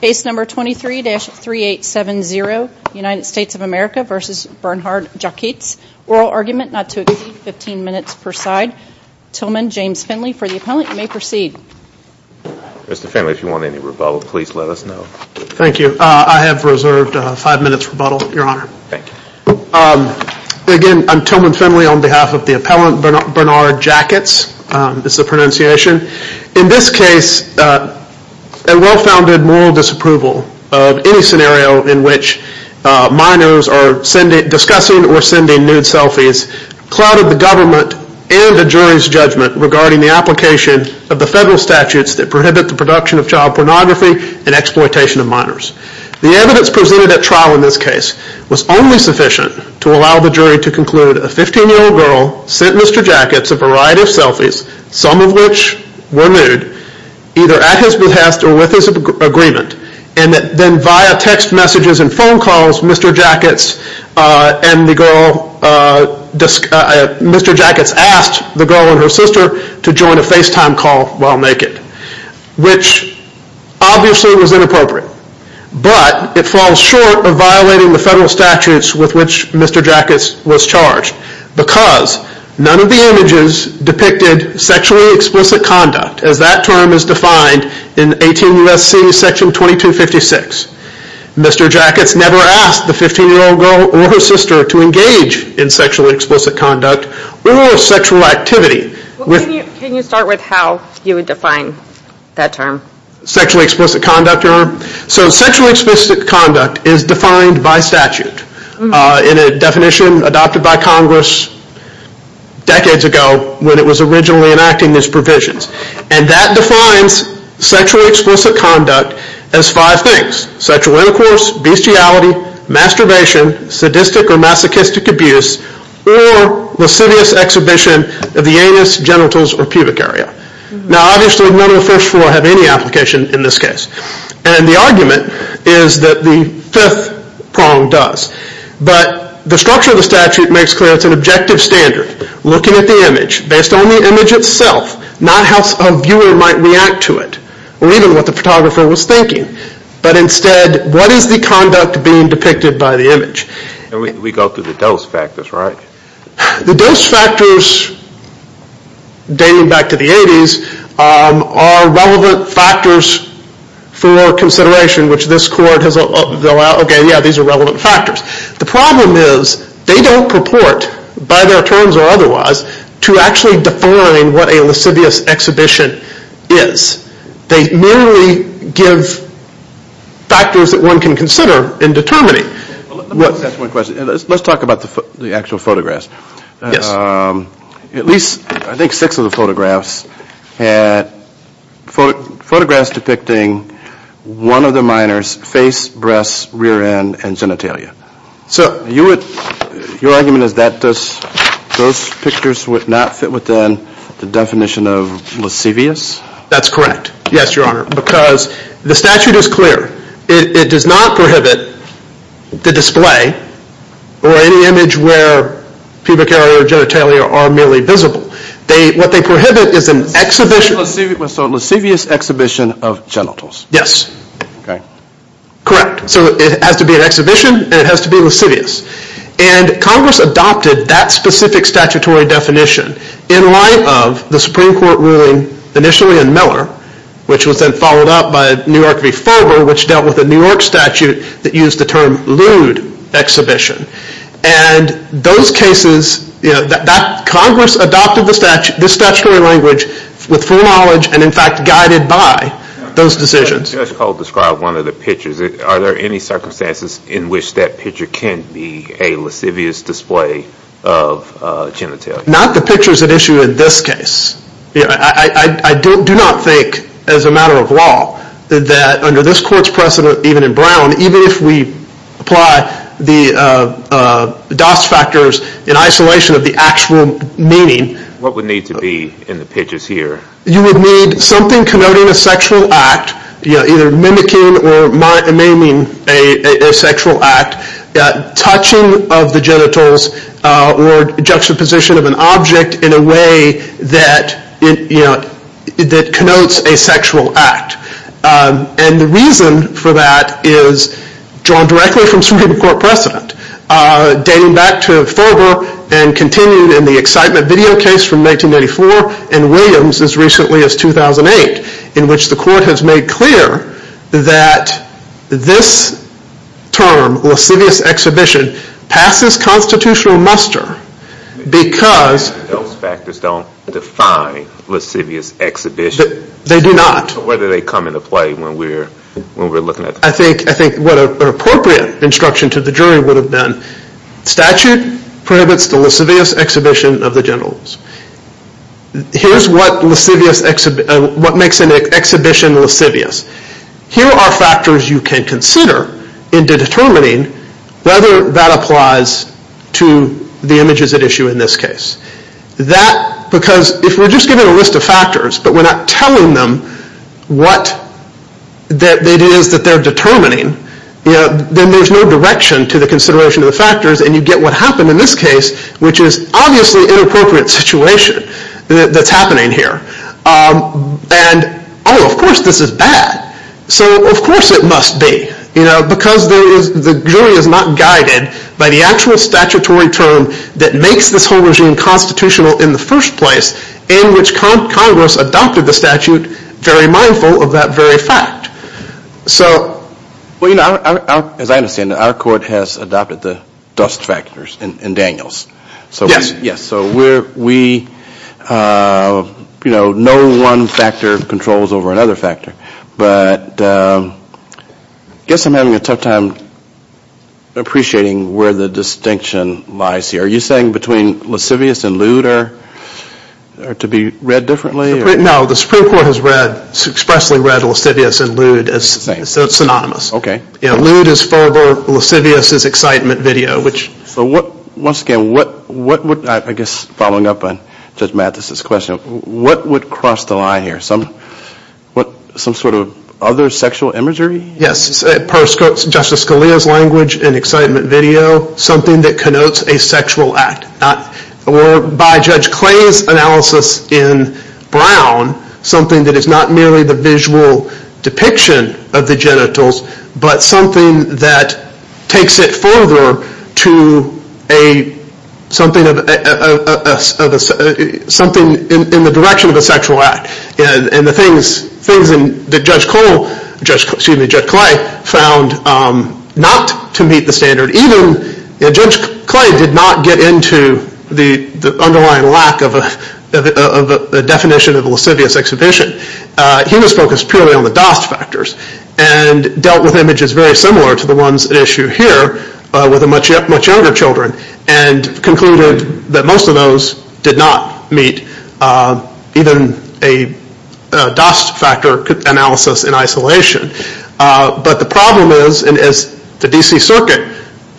Case number 23-3870, United States of America v. Bernhard Jakits, oral argument, not to exceed 15 minutes per side. Tillman, James Finley, for the appellant. You may proceed. Mr. Finley, if you want any rebuttal, please let us know. Thank you. I have reserved five minutes rebuttal, Your Honor. Thank you. Again, I'm Tillman Finley on behalf of the appellant, Bernhard Jakits, is the pronunciation. In this case, a well-founded moral disapproval of any scenario in which minors are discussing or sending nude selfies clouded the government and the jury's judgment regarding the application of the federal statutes that prohibit the production of child pornography and exploitation of minors. The evidence presented at trial in this case was only sufficient to allow the jury to conclude a 15-year-old girl sent Mr. Jakits a variety of selfies, some of which were nude, either at his behest or with his agreement, and then via text messages and phone calls, Mr. Jakits asked the girl and her sister to join a FaceTime call while naked, which obviously was inappropriate, but it falls short of violating the federal statutes with which Mr. Jakits was charged because none of the images depicted sexually explicit conduct, as that term is defined in 18 U.S.C. section 2256. Mr. Jakits never asked the 15-year-old girl or her sister to engage in sexually explicit conduct or sexual activity. Can you start with how you would define that term? Sexually explicit conduct is defined by statute in a definition adopted by Congress decades ago when it was originally enacting these provisions, and that defines sexually explicit conduct as five things, sexual intercourse, bestiality, masturbation, sadistic or masochistic abuse, or lascivious exhibition of the anus, genitals, or pubic area. Now, obviously none of the first four have any application in this case, and the argument is that the fifth prong does, but the structure of the statute makes clear it's an objective standard looking at the image based on the image itself, not how a viewer might react to it or even what the photographer was thinking, but instead what is the conduct being depicted by the image? We go through the dose factors, right? The dose factors dating back to the 80s are relevant factors for consideration which this court has allowed, okay, yeah, these are relevant factors. The problem is they don't purport, by their terms or otherwise, to actually define what a lascivious exhibition is. They merely give factors that one can consider in determining. Let me ask one question. Let's talk about the actual photographs. At least, I think, six of the photographs had photographs depicting one of the minors face, breasts, rear end, and genitalia. So your argument is that those pictures would not fit within the definition of lascivious? That's correct, yes, your honor, because the statute is clear. It does not prohibit the display or any image where pubic area or genitalia are merely visible. What they prohibit is a lascivious exhibition of genitals, yes, correct. So it has to be an exhibition and it has to be lascivious and Congress adopted that specific statutory definition in light of the Supreme Court ruling initially in Miller, which was then followed up by New York v. Fulber, which dealt with a New York statute that used the term lewd exhibition. And those cases, you know, Congress adopted this statutory language with full knowledge and, in fact, guided by those decisions. Judge Cole described one of the pictures. Are there any circumstances in which that picture can be a lascivious display of genitalia? Not the pictures at issue in this case. I do not think, as a matter of law, that under this court's precedent, even in Brown, even if we apply the DOS factors in isolation of the actual meaning. What would need to be in the pictures here? You would need something connoting a sexual act, you know, either mimicking or maiming a sexual act, touching of the genitals or juxtaposition of an object in a way that, you know, that connotes a sexual act. And the reason for that is drawn directly from Supreme Court precedent, dating back to Fulber and continued in the excitement video case from 1994 and Williams as recently as 2008, in which the court has made clear that this term, lascivious exhibition, passes constitutional muster because. Those factors don't define lascivious exhibition. They do not. Whether they come into play when we're looking at. I think what an appropriate instruction to the jury would have been statute prohibits the lascivious exhibition of the genitals. Here's what makes an exhibition lascivious. Here are factors you can consider in determining whether that applies to the images at issue in this case. That, because if we're just given a list of factors, but we're not telling them what it is that they're determining, then there's no direction to the consideration of the factors and you get what happened in this case, which is obviously an inappropriate situation that's happening here. And, oh, of course this is bad. So of course it must be, you know, because the jury is not guided by the actual statutory term that makes this whole regime constitutional in the first place, in which Congress adopted the statute very mindful of that very fact. So, well, you know, as I understand it, our court has adopted the dust factors in Daniels. Yes. So we, you know, no one factor controls over another factor. But I guess I'm having a tough time appreciating where the distinction lies here. Are you saying between lascivious and lewd are to be read differently? No, the Supreme Court has read, expressly read lascivious and lewd as synonymous. You know, lewd is verbal, lascivious is excitement video, which. So what, once again, what would, I guess following up on Judge Mathis' question, what would cross the line here? Some sort of other sexual imagery? Yes. Per Justice Scalia's language, an excitement video, something that connotes a sexual act. Or by Judge Clay's analysis in Brown, something that is not merely the visual depiction of the genitals, but something that takes it further to something in the direction of a sexual act. And the things that Judge Cole, excuse me, Judge Clay, found not to meet the standard. And even, you know, Judge Clay did not get into the underlying lack of a definition of a lascivious exhibition. He was focused purely on the Dost factors and dealt with images very similar to the ones at issue here with the much younger children and concluded that most of those did not meet even a Dost factor analysis in isolation. But the problem is, and as the D.C. Circuit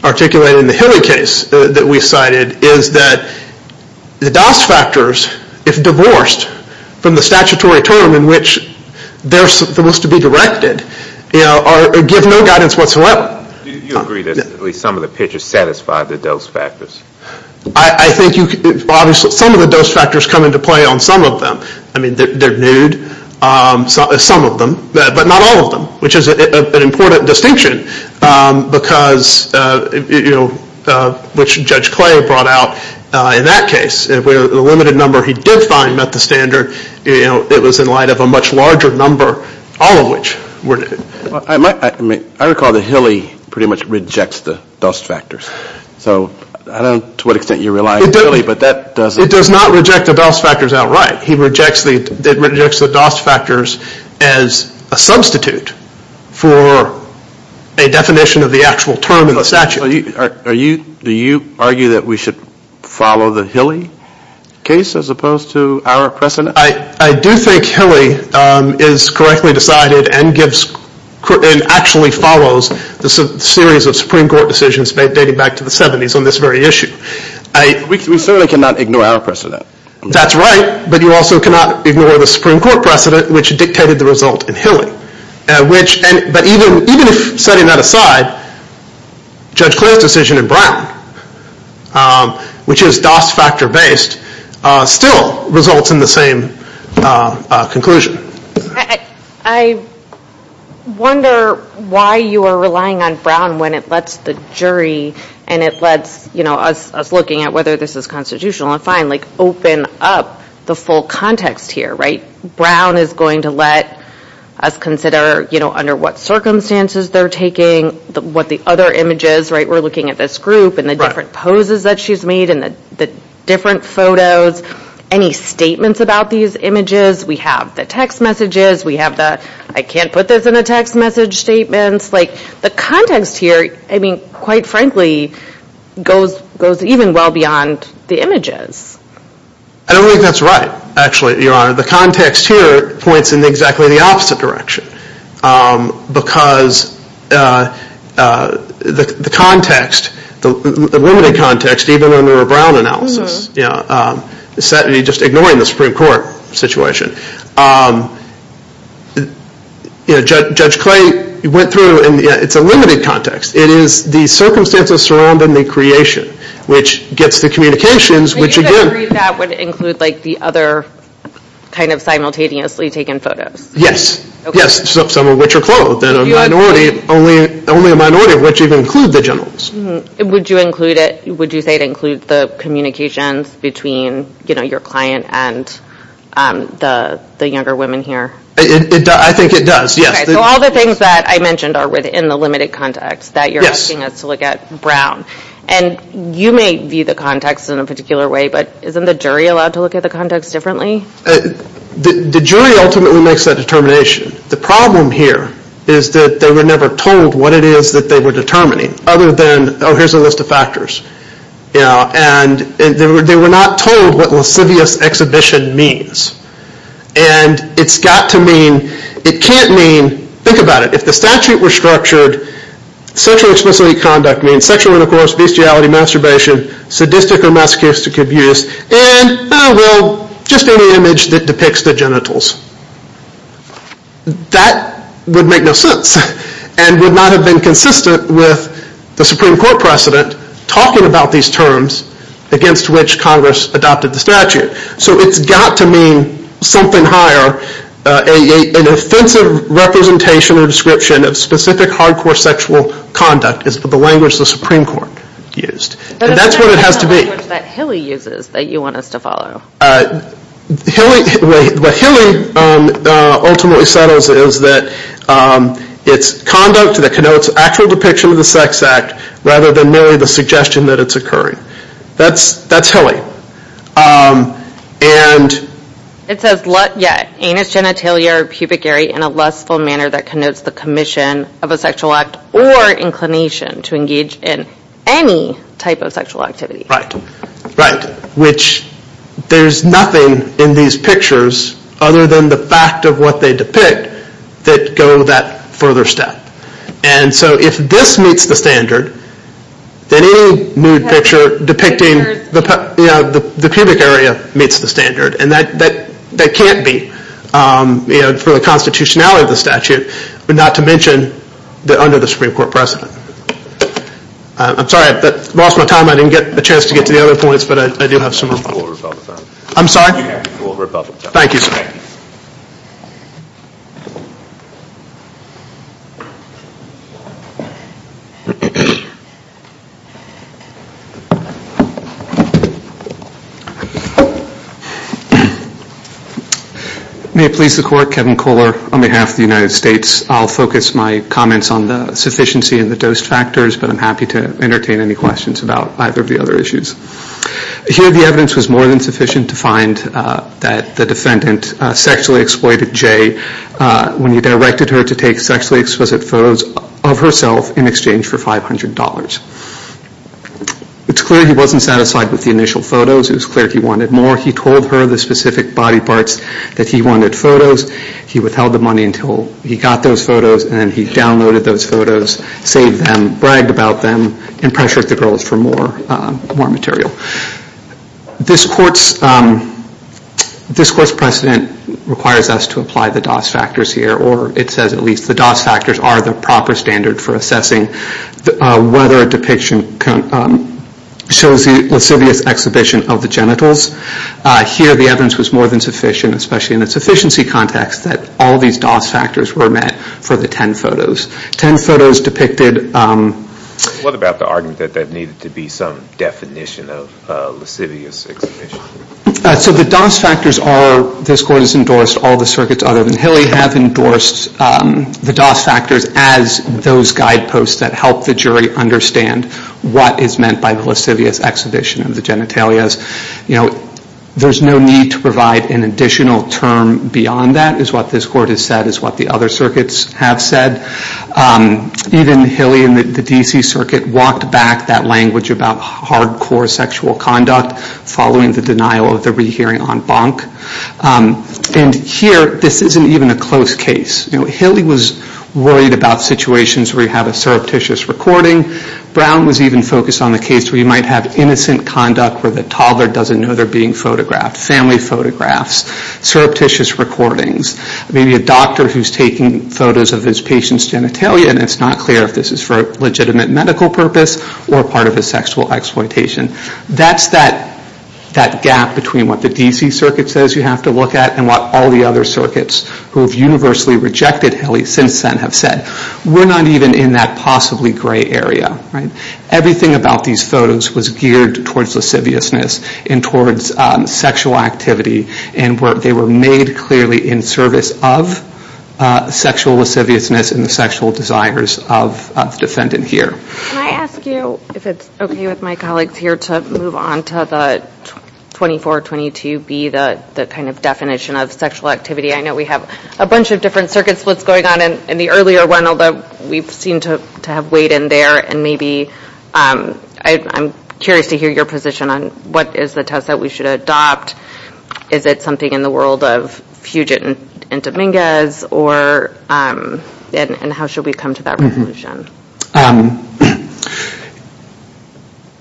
articulated in the Hillary case that we cited, is that the Dost factors, if divorced from the statutory term in which they're supposed to be directed, you know, give no guidance whatsoever. Do you agree that at least some of the pictures satisfy the Dost factors? I think you, obviously, some of the Dost factors come into play on some of them. I mean, they're nude, some of them, but not all of them, which is an important distinction because, you know, which Judge Clay brought out in that case where the limited number he did find met the standard. You know, it was in light of a much larger number, all of which were. I recall that Hillary pretty much rejects the Dost factors. So I don't know to what extent you rely on Hillary, but that doesn't. It does not reject the Dost factors outright. It rejects the Dost factors as a substitute for a definition of the actual term in the statute. Do you argue that we should follow the Hillary case as opposed to our precedent? I do think Hillary is correctly decided and actually follows the series of Supreme Court decisions dating back to the 70s on this very issue. We certainly cannot ignore our precedent. That's right, but you also cannot ignore the Supreme Court precedent, which dictated the result in Hillary. But even setting that aside, Judge Clay's decision in Brown, which is Dost factor based, still results in the same conclusion. I wonder why you are relying on Brown when it lets the jury and it lets us looking at whether this is constitutional and fine, like open up the full context here, right? Brown is going to let us consider under what circumstances they're taking, what the other images, right? We're looking at this group and the different poses that she's made and the different photos. Any statements about these images? We have the text messages. We have the I can't put this in a text message statements. Like the context here, I mean, quite frankly, goes even well beyond the images. I don't think that's right, actually, Your Honor. The context here points in exactly the opposite direction because the context, the limited context, even under a Brown analysis, just ignoring the Supreme Court situation, Judge Clay went through and it's a limited context. It is the circumstances surrounding the creation, which gets the communications, which again Would you agree that would include like the other kind of simultaneously taken photos? Yes, yes, some of which are clothed. Only a minority of which even include the generals. Would you include it? Would you say it includes the communications between your client and the younger women here? I think it does, yes. So all the things that I mentioned are within the limited context that you're asking us to look at Brown. And you may view the context in a particular way, but isn't the jury allowed to look at the context differently? The jury ultimately makes that determination. The problem here is that they were never told what it is that they were determining, other than, oh, here's a list of factors. And they were not told what lascivious exhibition means. And it's got to mean, it can't mean, think about it, if the statute were structured, sexual explicit conduct means sexual intercourse, bestiality, masturbation, sadistic or masochistic abuse, and, oh, well, just any image that depicts the genitals. That would make no sense and would not have been consistent with the Supreme Court precedent talking about these terms against which Congress adopted the statute. So it's got to mean something higher. An offensive representation or description of specific hardcore sexual conduct is the language the Supreme Court used. And that's what it has to be. But that's not the language that Hilly uses that you want us to follow. What Hilly ultimately settles is that it's conduct that connotes actual depiction of the sex act, rather than merely the suggestion that it's occurring. That's Hilly. It says, yeah, anus, genitalia, or pubic area in a lustful manner that connotes the commission of a sexual act or inclination to engage in any type of sexual activity. Right. Which there's nothing in these pictures other than the fact of what they depict that go that further step. And so if this meets the standard, then any nude picture depicting the pubic area meets the standard. And that can't be for the constitutionality of the statute, but not to mention under the Supreme Court precedent. I'm sorry, I lost my time. I didn't get the chance to get to the other points, but I do have some more. I'm sorry? Thank you, sir. May it please the court, Kevin Kohler on behalf of the United States. I'll focus my comments on the sufficiency and the dose factors, but I'm happy to entertain any questions about either of the other issues. Here the evidence was more than sufficient to find that the defendant sexually exploited Jay when he directed her to take sexually explicit photos of herself in exchange for $500. It's clear he wasn't satisfied with the initial photos. It was clear he wanted more. He told her the specific body parts that he wanted photos. He withheld the money until he got those photos, and then he downloaded those photos, saved them, bragged about them, and pressured the girls for more material. This court's precedent requires us to apply the dose factors here, or it says at least the dose factors are the proper standard for assessing whether a depiction shows the lascivious exhibition of the genitals. Here the evidence was more than sufficient, especially in a sufficiency context, that all these dose factors were met for the 10 photos. 10 photos depicted. What about the argument that there needed to be some definition of lascivious exhibition? So the dose factors are, this court has endorsed, all the circuits other than Hilly have endorsed the dose factors as those guideposts that help the jury understand what is meant by the lascivious exhibition of the genitalia. You know, there's no need to provide an additional term beyond that is what this court has said, and is what the other circuits have said. Even Hilly and the D.C. Circuit walked back that language about hardcore sexual conduct following the denial of the rehearing on Bonk. And here, this isn't even a close case. Hilly was worried about situations where you have a surreptitious recording. Brown was even focused on the case where you might have innocent conduct where the toddler doesn't know they're being photographed, family photographs, surreptitious recordings. Maybe a doctor who's taking photos of his patient's genitalia, and it's not clear if this is for a legitimate medical purpose or part of a sexual exploitation. That's that gap between what the D.C. Circuit says you have to look at and what all the other circuits who have universally rejected Hilly since then have said. We're not even in that possibly gray area. Everything about these photos was geared towards lasciviousness and towards sexual activity. And they were made clearly in service of sexual lasciviousness and the sexual desires of the defendant here. Can I ask you if it's okay with my colleagues here to move on to the 2422B, the kind of definition of sexual activity? I know we have a bunch of different circuit splits going on in the earlier one, although we seem to have weighed in there. And maybe I'm curious to hear your position on what is the test that we should adopt. Is it something in the world of Fugit and Dominguez, and how should we come to that resolution?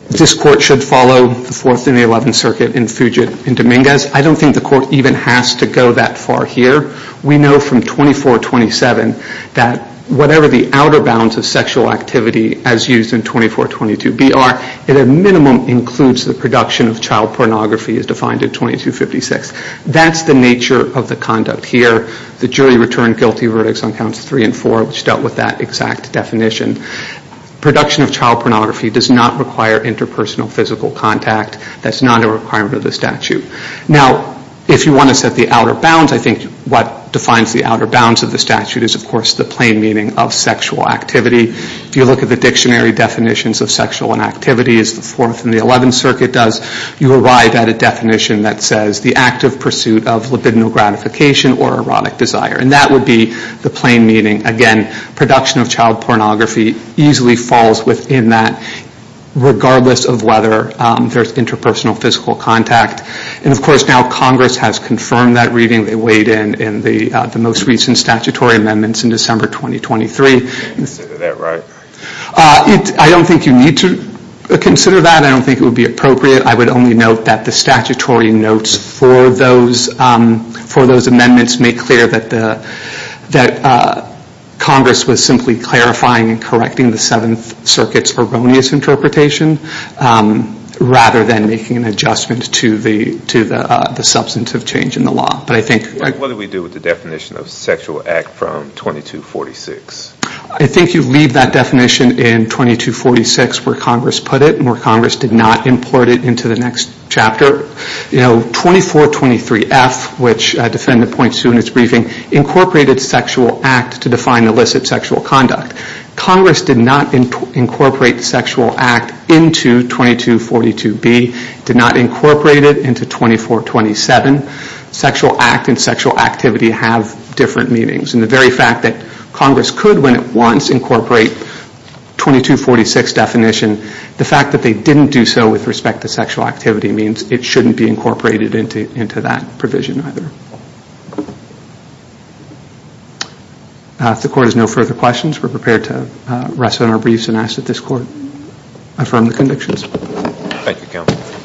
This court should follow the Fourth and the Eleventh Circuit in Fugit and Dominguez. I don't think the court even has to go that far here. We know from 2427 that whatever the outer bounds of sexual activity as used in 2422B are, at a minimum includes the production of child pornography as defined in 2256. That's the nature of the conduct here. The jury returned guilty verdicts on counts three and four, which dealt with that exact definition. Production of child pornography does not require interpersonal physical contact. That's not a requirement of the statute. Now, if you want to set the outer bounds, I think what defines the outer bounds of the statute is, of course, the plain meaning of sexual activity. If you look at the dictionary definitions of sexual inactivity as the Fourth and the Eleventh Circuit does, you arrive at a definition that says the active pursuit of libidinal gratification or erotic desire. And that would be the plain meaning. Again, production of child pornography easily falls within that, regardless of whether there's interpersonal physical contact. And, of course, now Congress has confirmed that reading. They weighed in in the most recent statutory amendments in December 2023. I don't think you need to consider that. I don't think it would be appropriate. I would only note that the statutory notes for those amendments make clear that Congress was simply clarifying and correcting the Seventh Circuit's erroneous interpretation, rather than making an adjustment to the substantive change in the law. But I think... What do we do with the definition of sexual act from 2246? I think you leave that definition in 2246 where Congress put it and where Congress did not import it into the next chapter. You know, 2423F, which a defendant points to in its briefing, incorporated sexual act to define illicit sexual conduct. Congress did not incorporate sexual act into 2242B. It did not incorporate it into 2427. Sexual act and sexual activity have different meanings. And the very fact that Congress could, when it wants, incorporate 2246 definition, the fact that they didn't do so with respect to sexual activity means it shouldn't be incorporated into that provision either. If the Court has no further questions, we're prepared to rest on our briefs and ask that this Court affirm the convictions. Thank you, Counsel.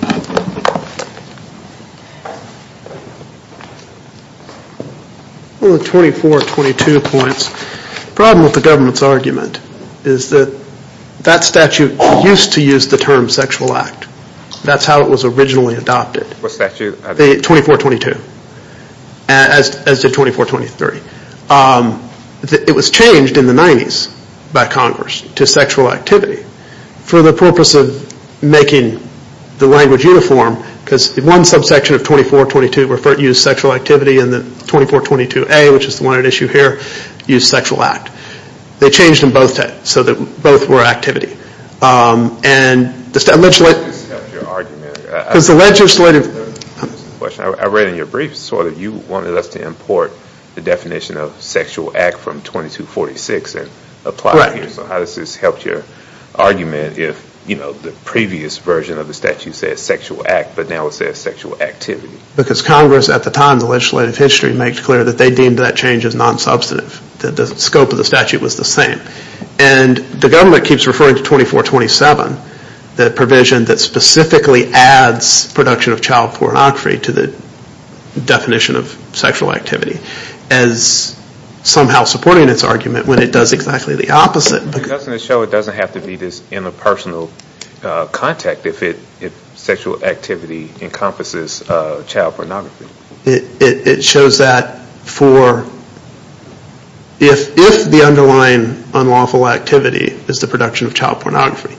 On the 2422 points, the problem with the government's argument is that that statute used to use the term sexual act. That's how it was originally adopted. What statute? 2422, as did 2423. It was changed in the 90s by Congress to sexual activity for the purpose of making the language uniform because one subsection of 2422 referred to sexual activity and the 2422A, which is the one at issue here, used sexual act. They changed them both so that both were activity. And the legislative... How does this help your argument? Because the legislative... I read in your briefs that you wanted us to import the definition of sexual act from 2246 and apply it here, so how does this help your argument if the previous version of the statute said sexual act but now it says sexual activity? Because Congress at the time in the legislative history made clear that they deemed that change as non-substantive, that the scope of the statute was the same. And the government keeps referring to 2427, the provision that specifically adds production of child pornography to the definition of sexual activity, as somehow supporting its argument when it does exactly the opposite. Doesn't it show it doesn't have to be this interpersonal contact if sexual activity encompasses child pornography? It shows that for... If the underlying unlawful activity is the production of child pornography.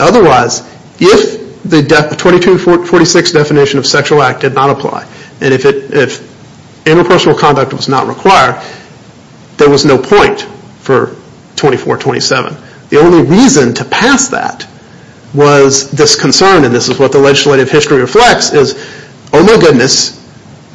Otherwise, if the 2246 definition of sexual act did not apply and if interpersonal contact was not required, there was no point for 2427. The only reason to pass that was this concern, and this is what the legislative history reflects, is oh my goodness,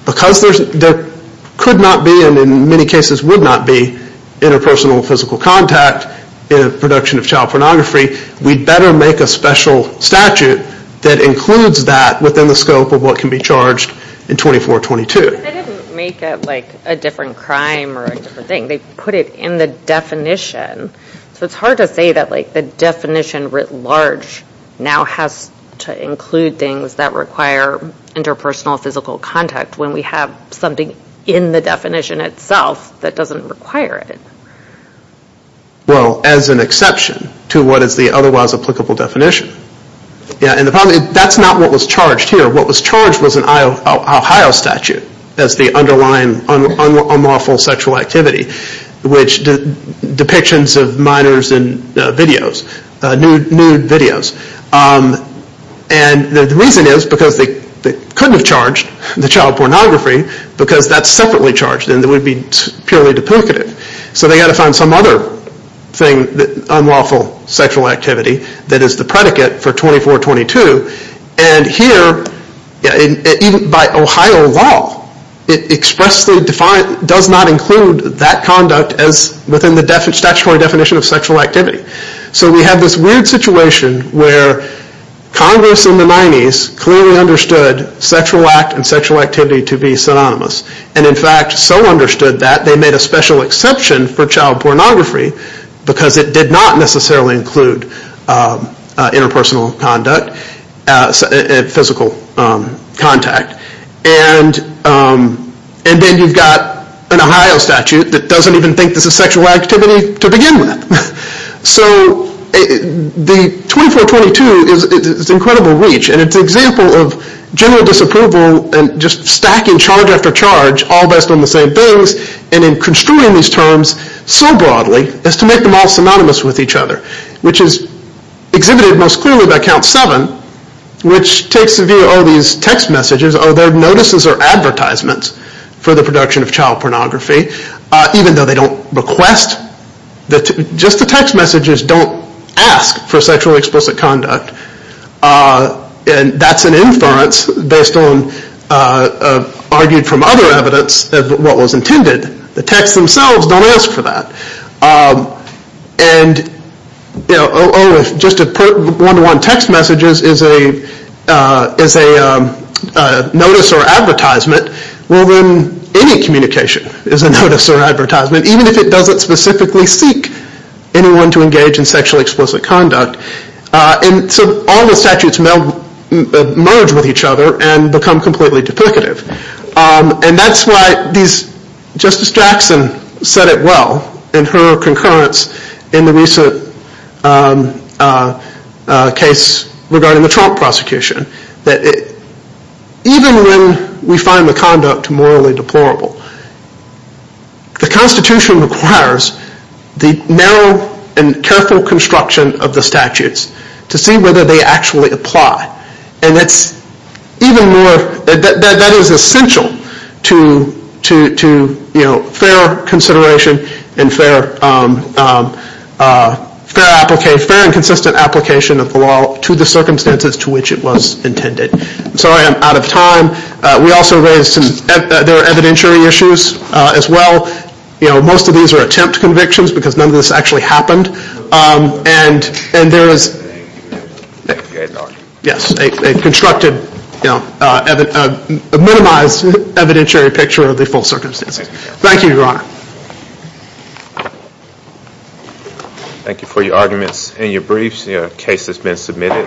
because there could not be and in many cases would not be interpersonal physical contact in a production of child pornography, we'd better make a special statute that includes that within the scope of what can be charged in 2422. They didn't make it like a different crime or a different thing. They put it in the definition. So it's hard to say that the definition writ large now has to include things that require interpersonal physical contact when we have something in the definition itself that doesn't require it. Well, as an exception to what is the otherwise applicable definition. That's not what was charged here. What was charged was an Ohio statute as the underlying unlawful sexual activity, which depictions of minors in videos, nude videos. And the reason is because they couldn't have charged the child pornography because that's separately charged and it would be purely duplicative. So they had to find some other thing, unlawful sexual activity, that is the predicate for 2422. And here, even by Ohio law, it expressly does not include that conduct as within the statutory definition of sexual activity. So we have this weird situation where Congress in the 90s clearly understood sexual act and sexual activity to be synonymous. And in fact so understood that they made a special exception for child pornography because it did not necessarily include interpersonal conduct, physical contact. And then you've got an Ohio statute that doesn't even think this is sexual activity to begin with. So the 2422 is incredible reach and it's an example of general disapproval and just stacking charge after charge all based on the same things and in construing these terms so broadly as to make them all synonymous with each other, which is exhibited most clearly by Count 7, which takes a view of all these text messages or their notices or advertisements for the production of child pornography even though they don't request. Just the text messages don't ask for sexually explicit conduct. And that's an inference based on argued from other evidence of what was intended. The texts themselves don't ask for that. And just to put one-to-one text messages as a notice or advertisement, well then any communication is a notice or advertisement even if it doesn't specifically seek anyone to engage in sexually explicit conduct. And so all the statutes merge with each other and become completely duplicative. And that's why Justice Jackson said it well in her concurrence in the recent case regarding the Trump prosecution that even when we find the conduct morally deplorable, the Constitution requires the narrow and careful construction of the statutes to see whether they actually apply. And that is essential to fair consideration and fair and consistent application of the law to the circumstances to which it was intended. Sorry I'm out of time. We also raised some evidentiary issues as well. Most of these are attempt convictions because none of this actually happened. And there is a constructed, a minimized evidentiary picture of the full circumstances. Thank you, Your Honor. Thank you for your arguments and your briefs. The case has been submitted.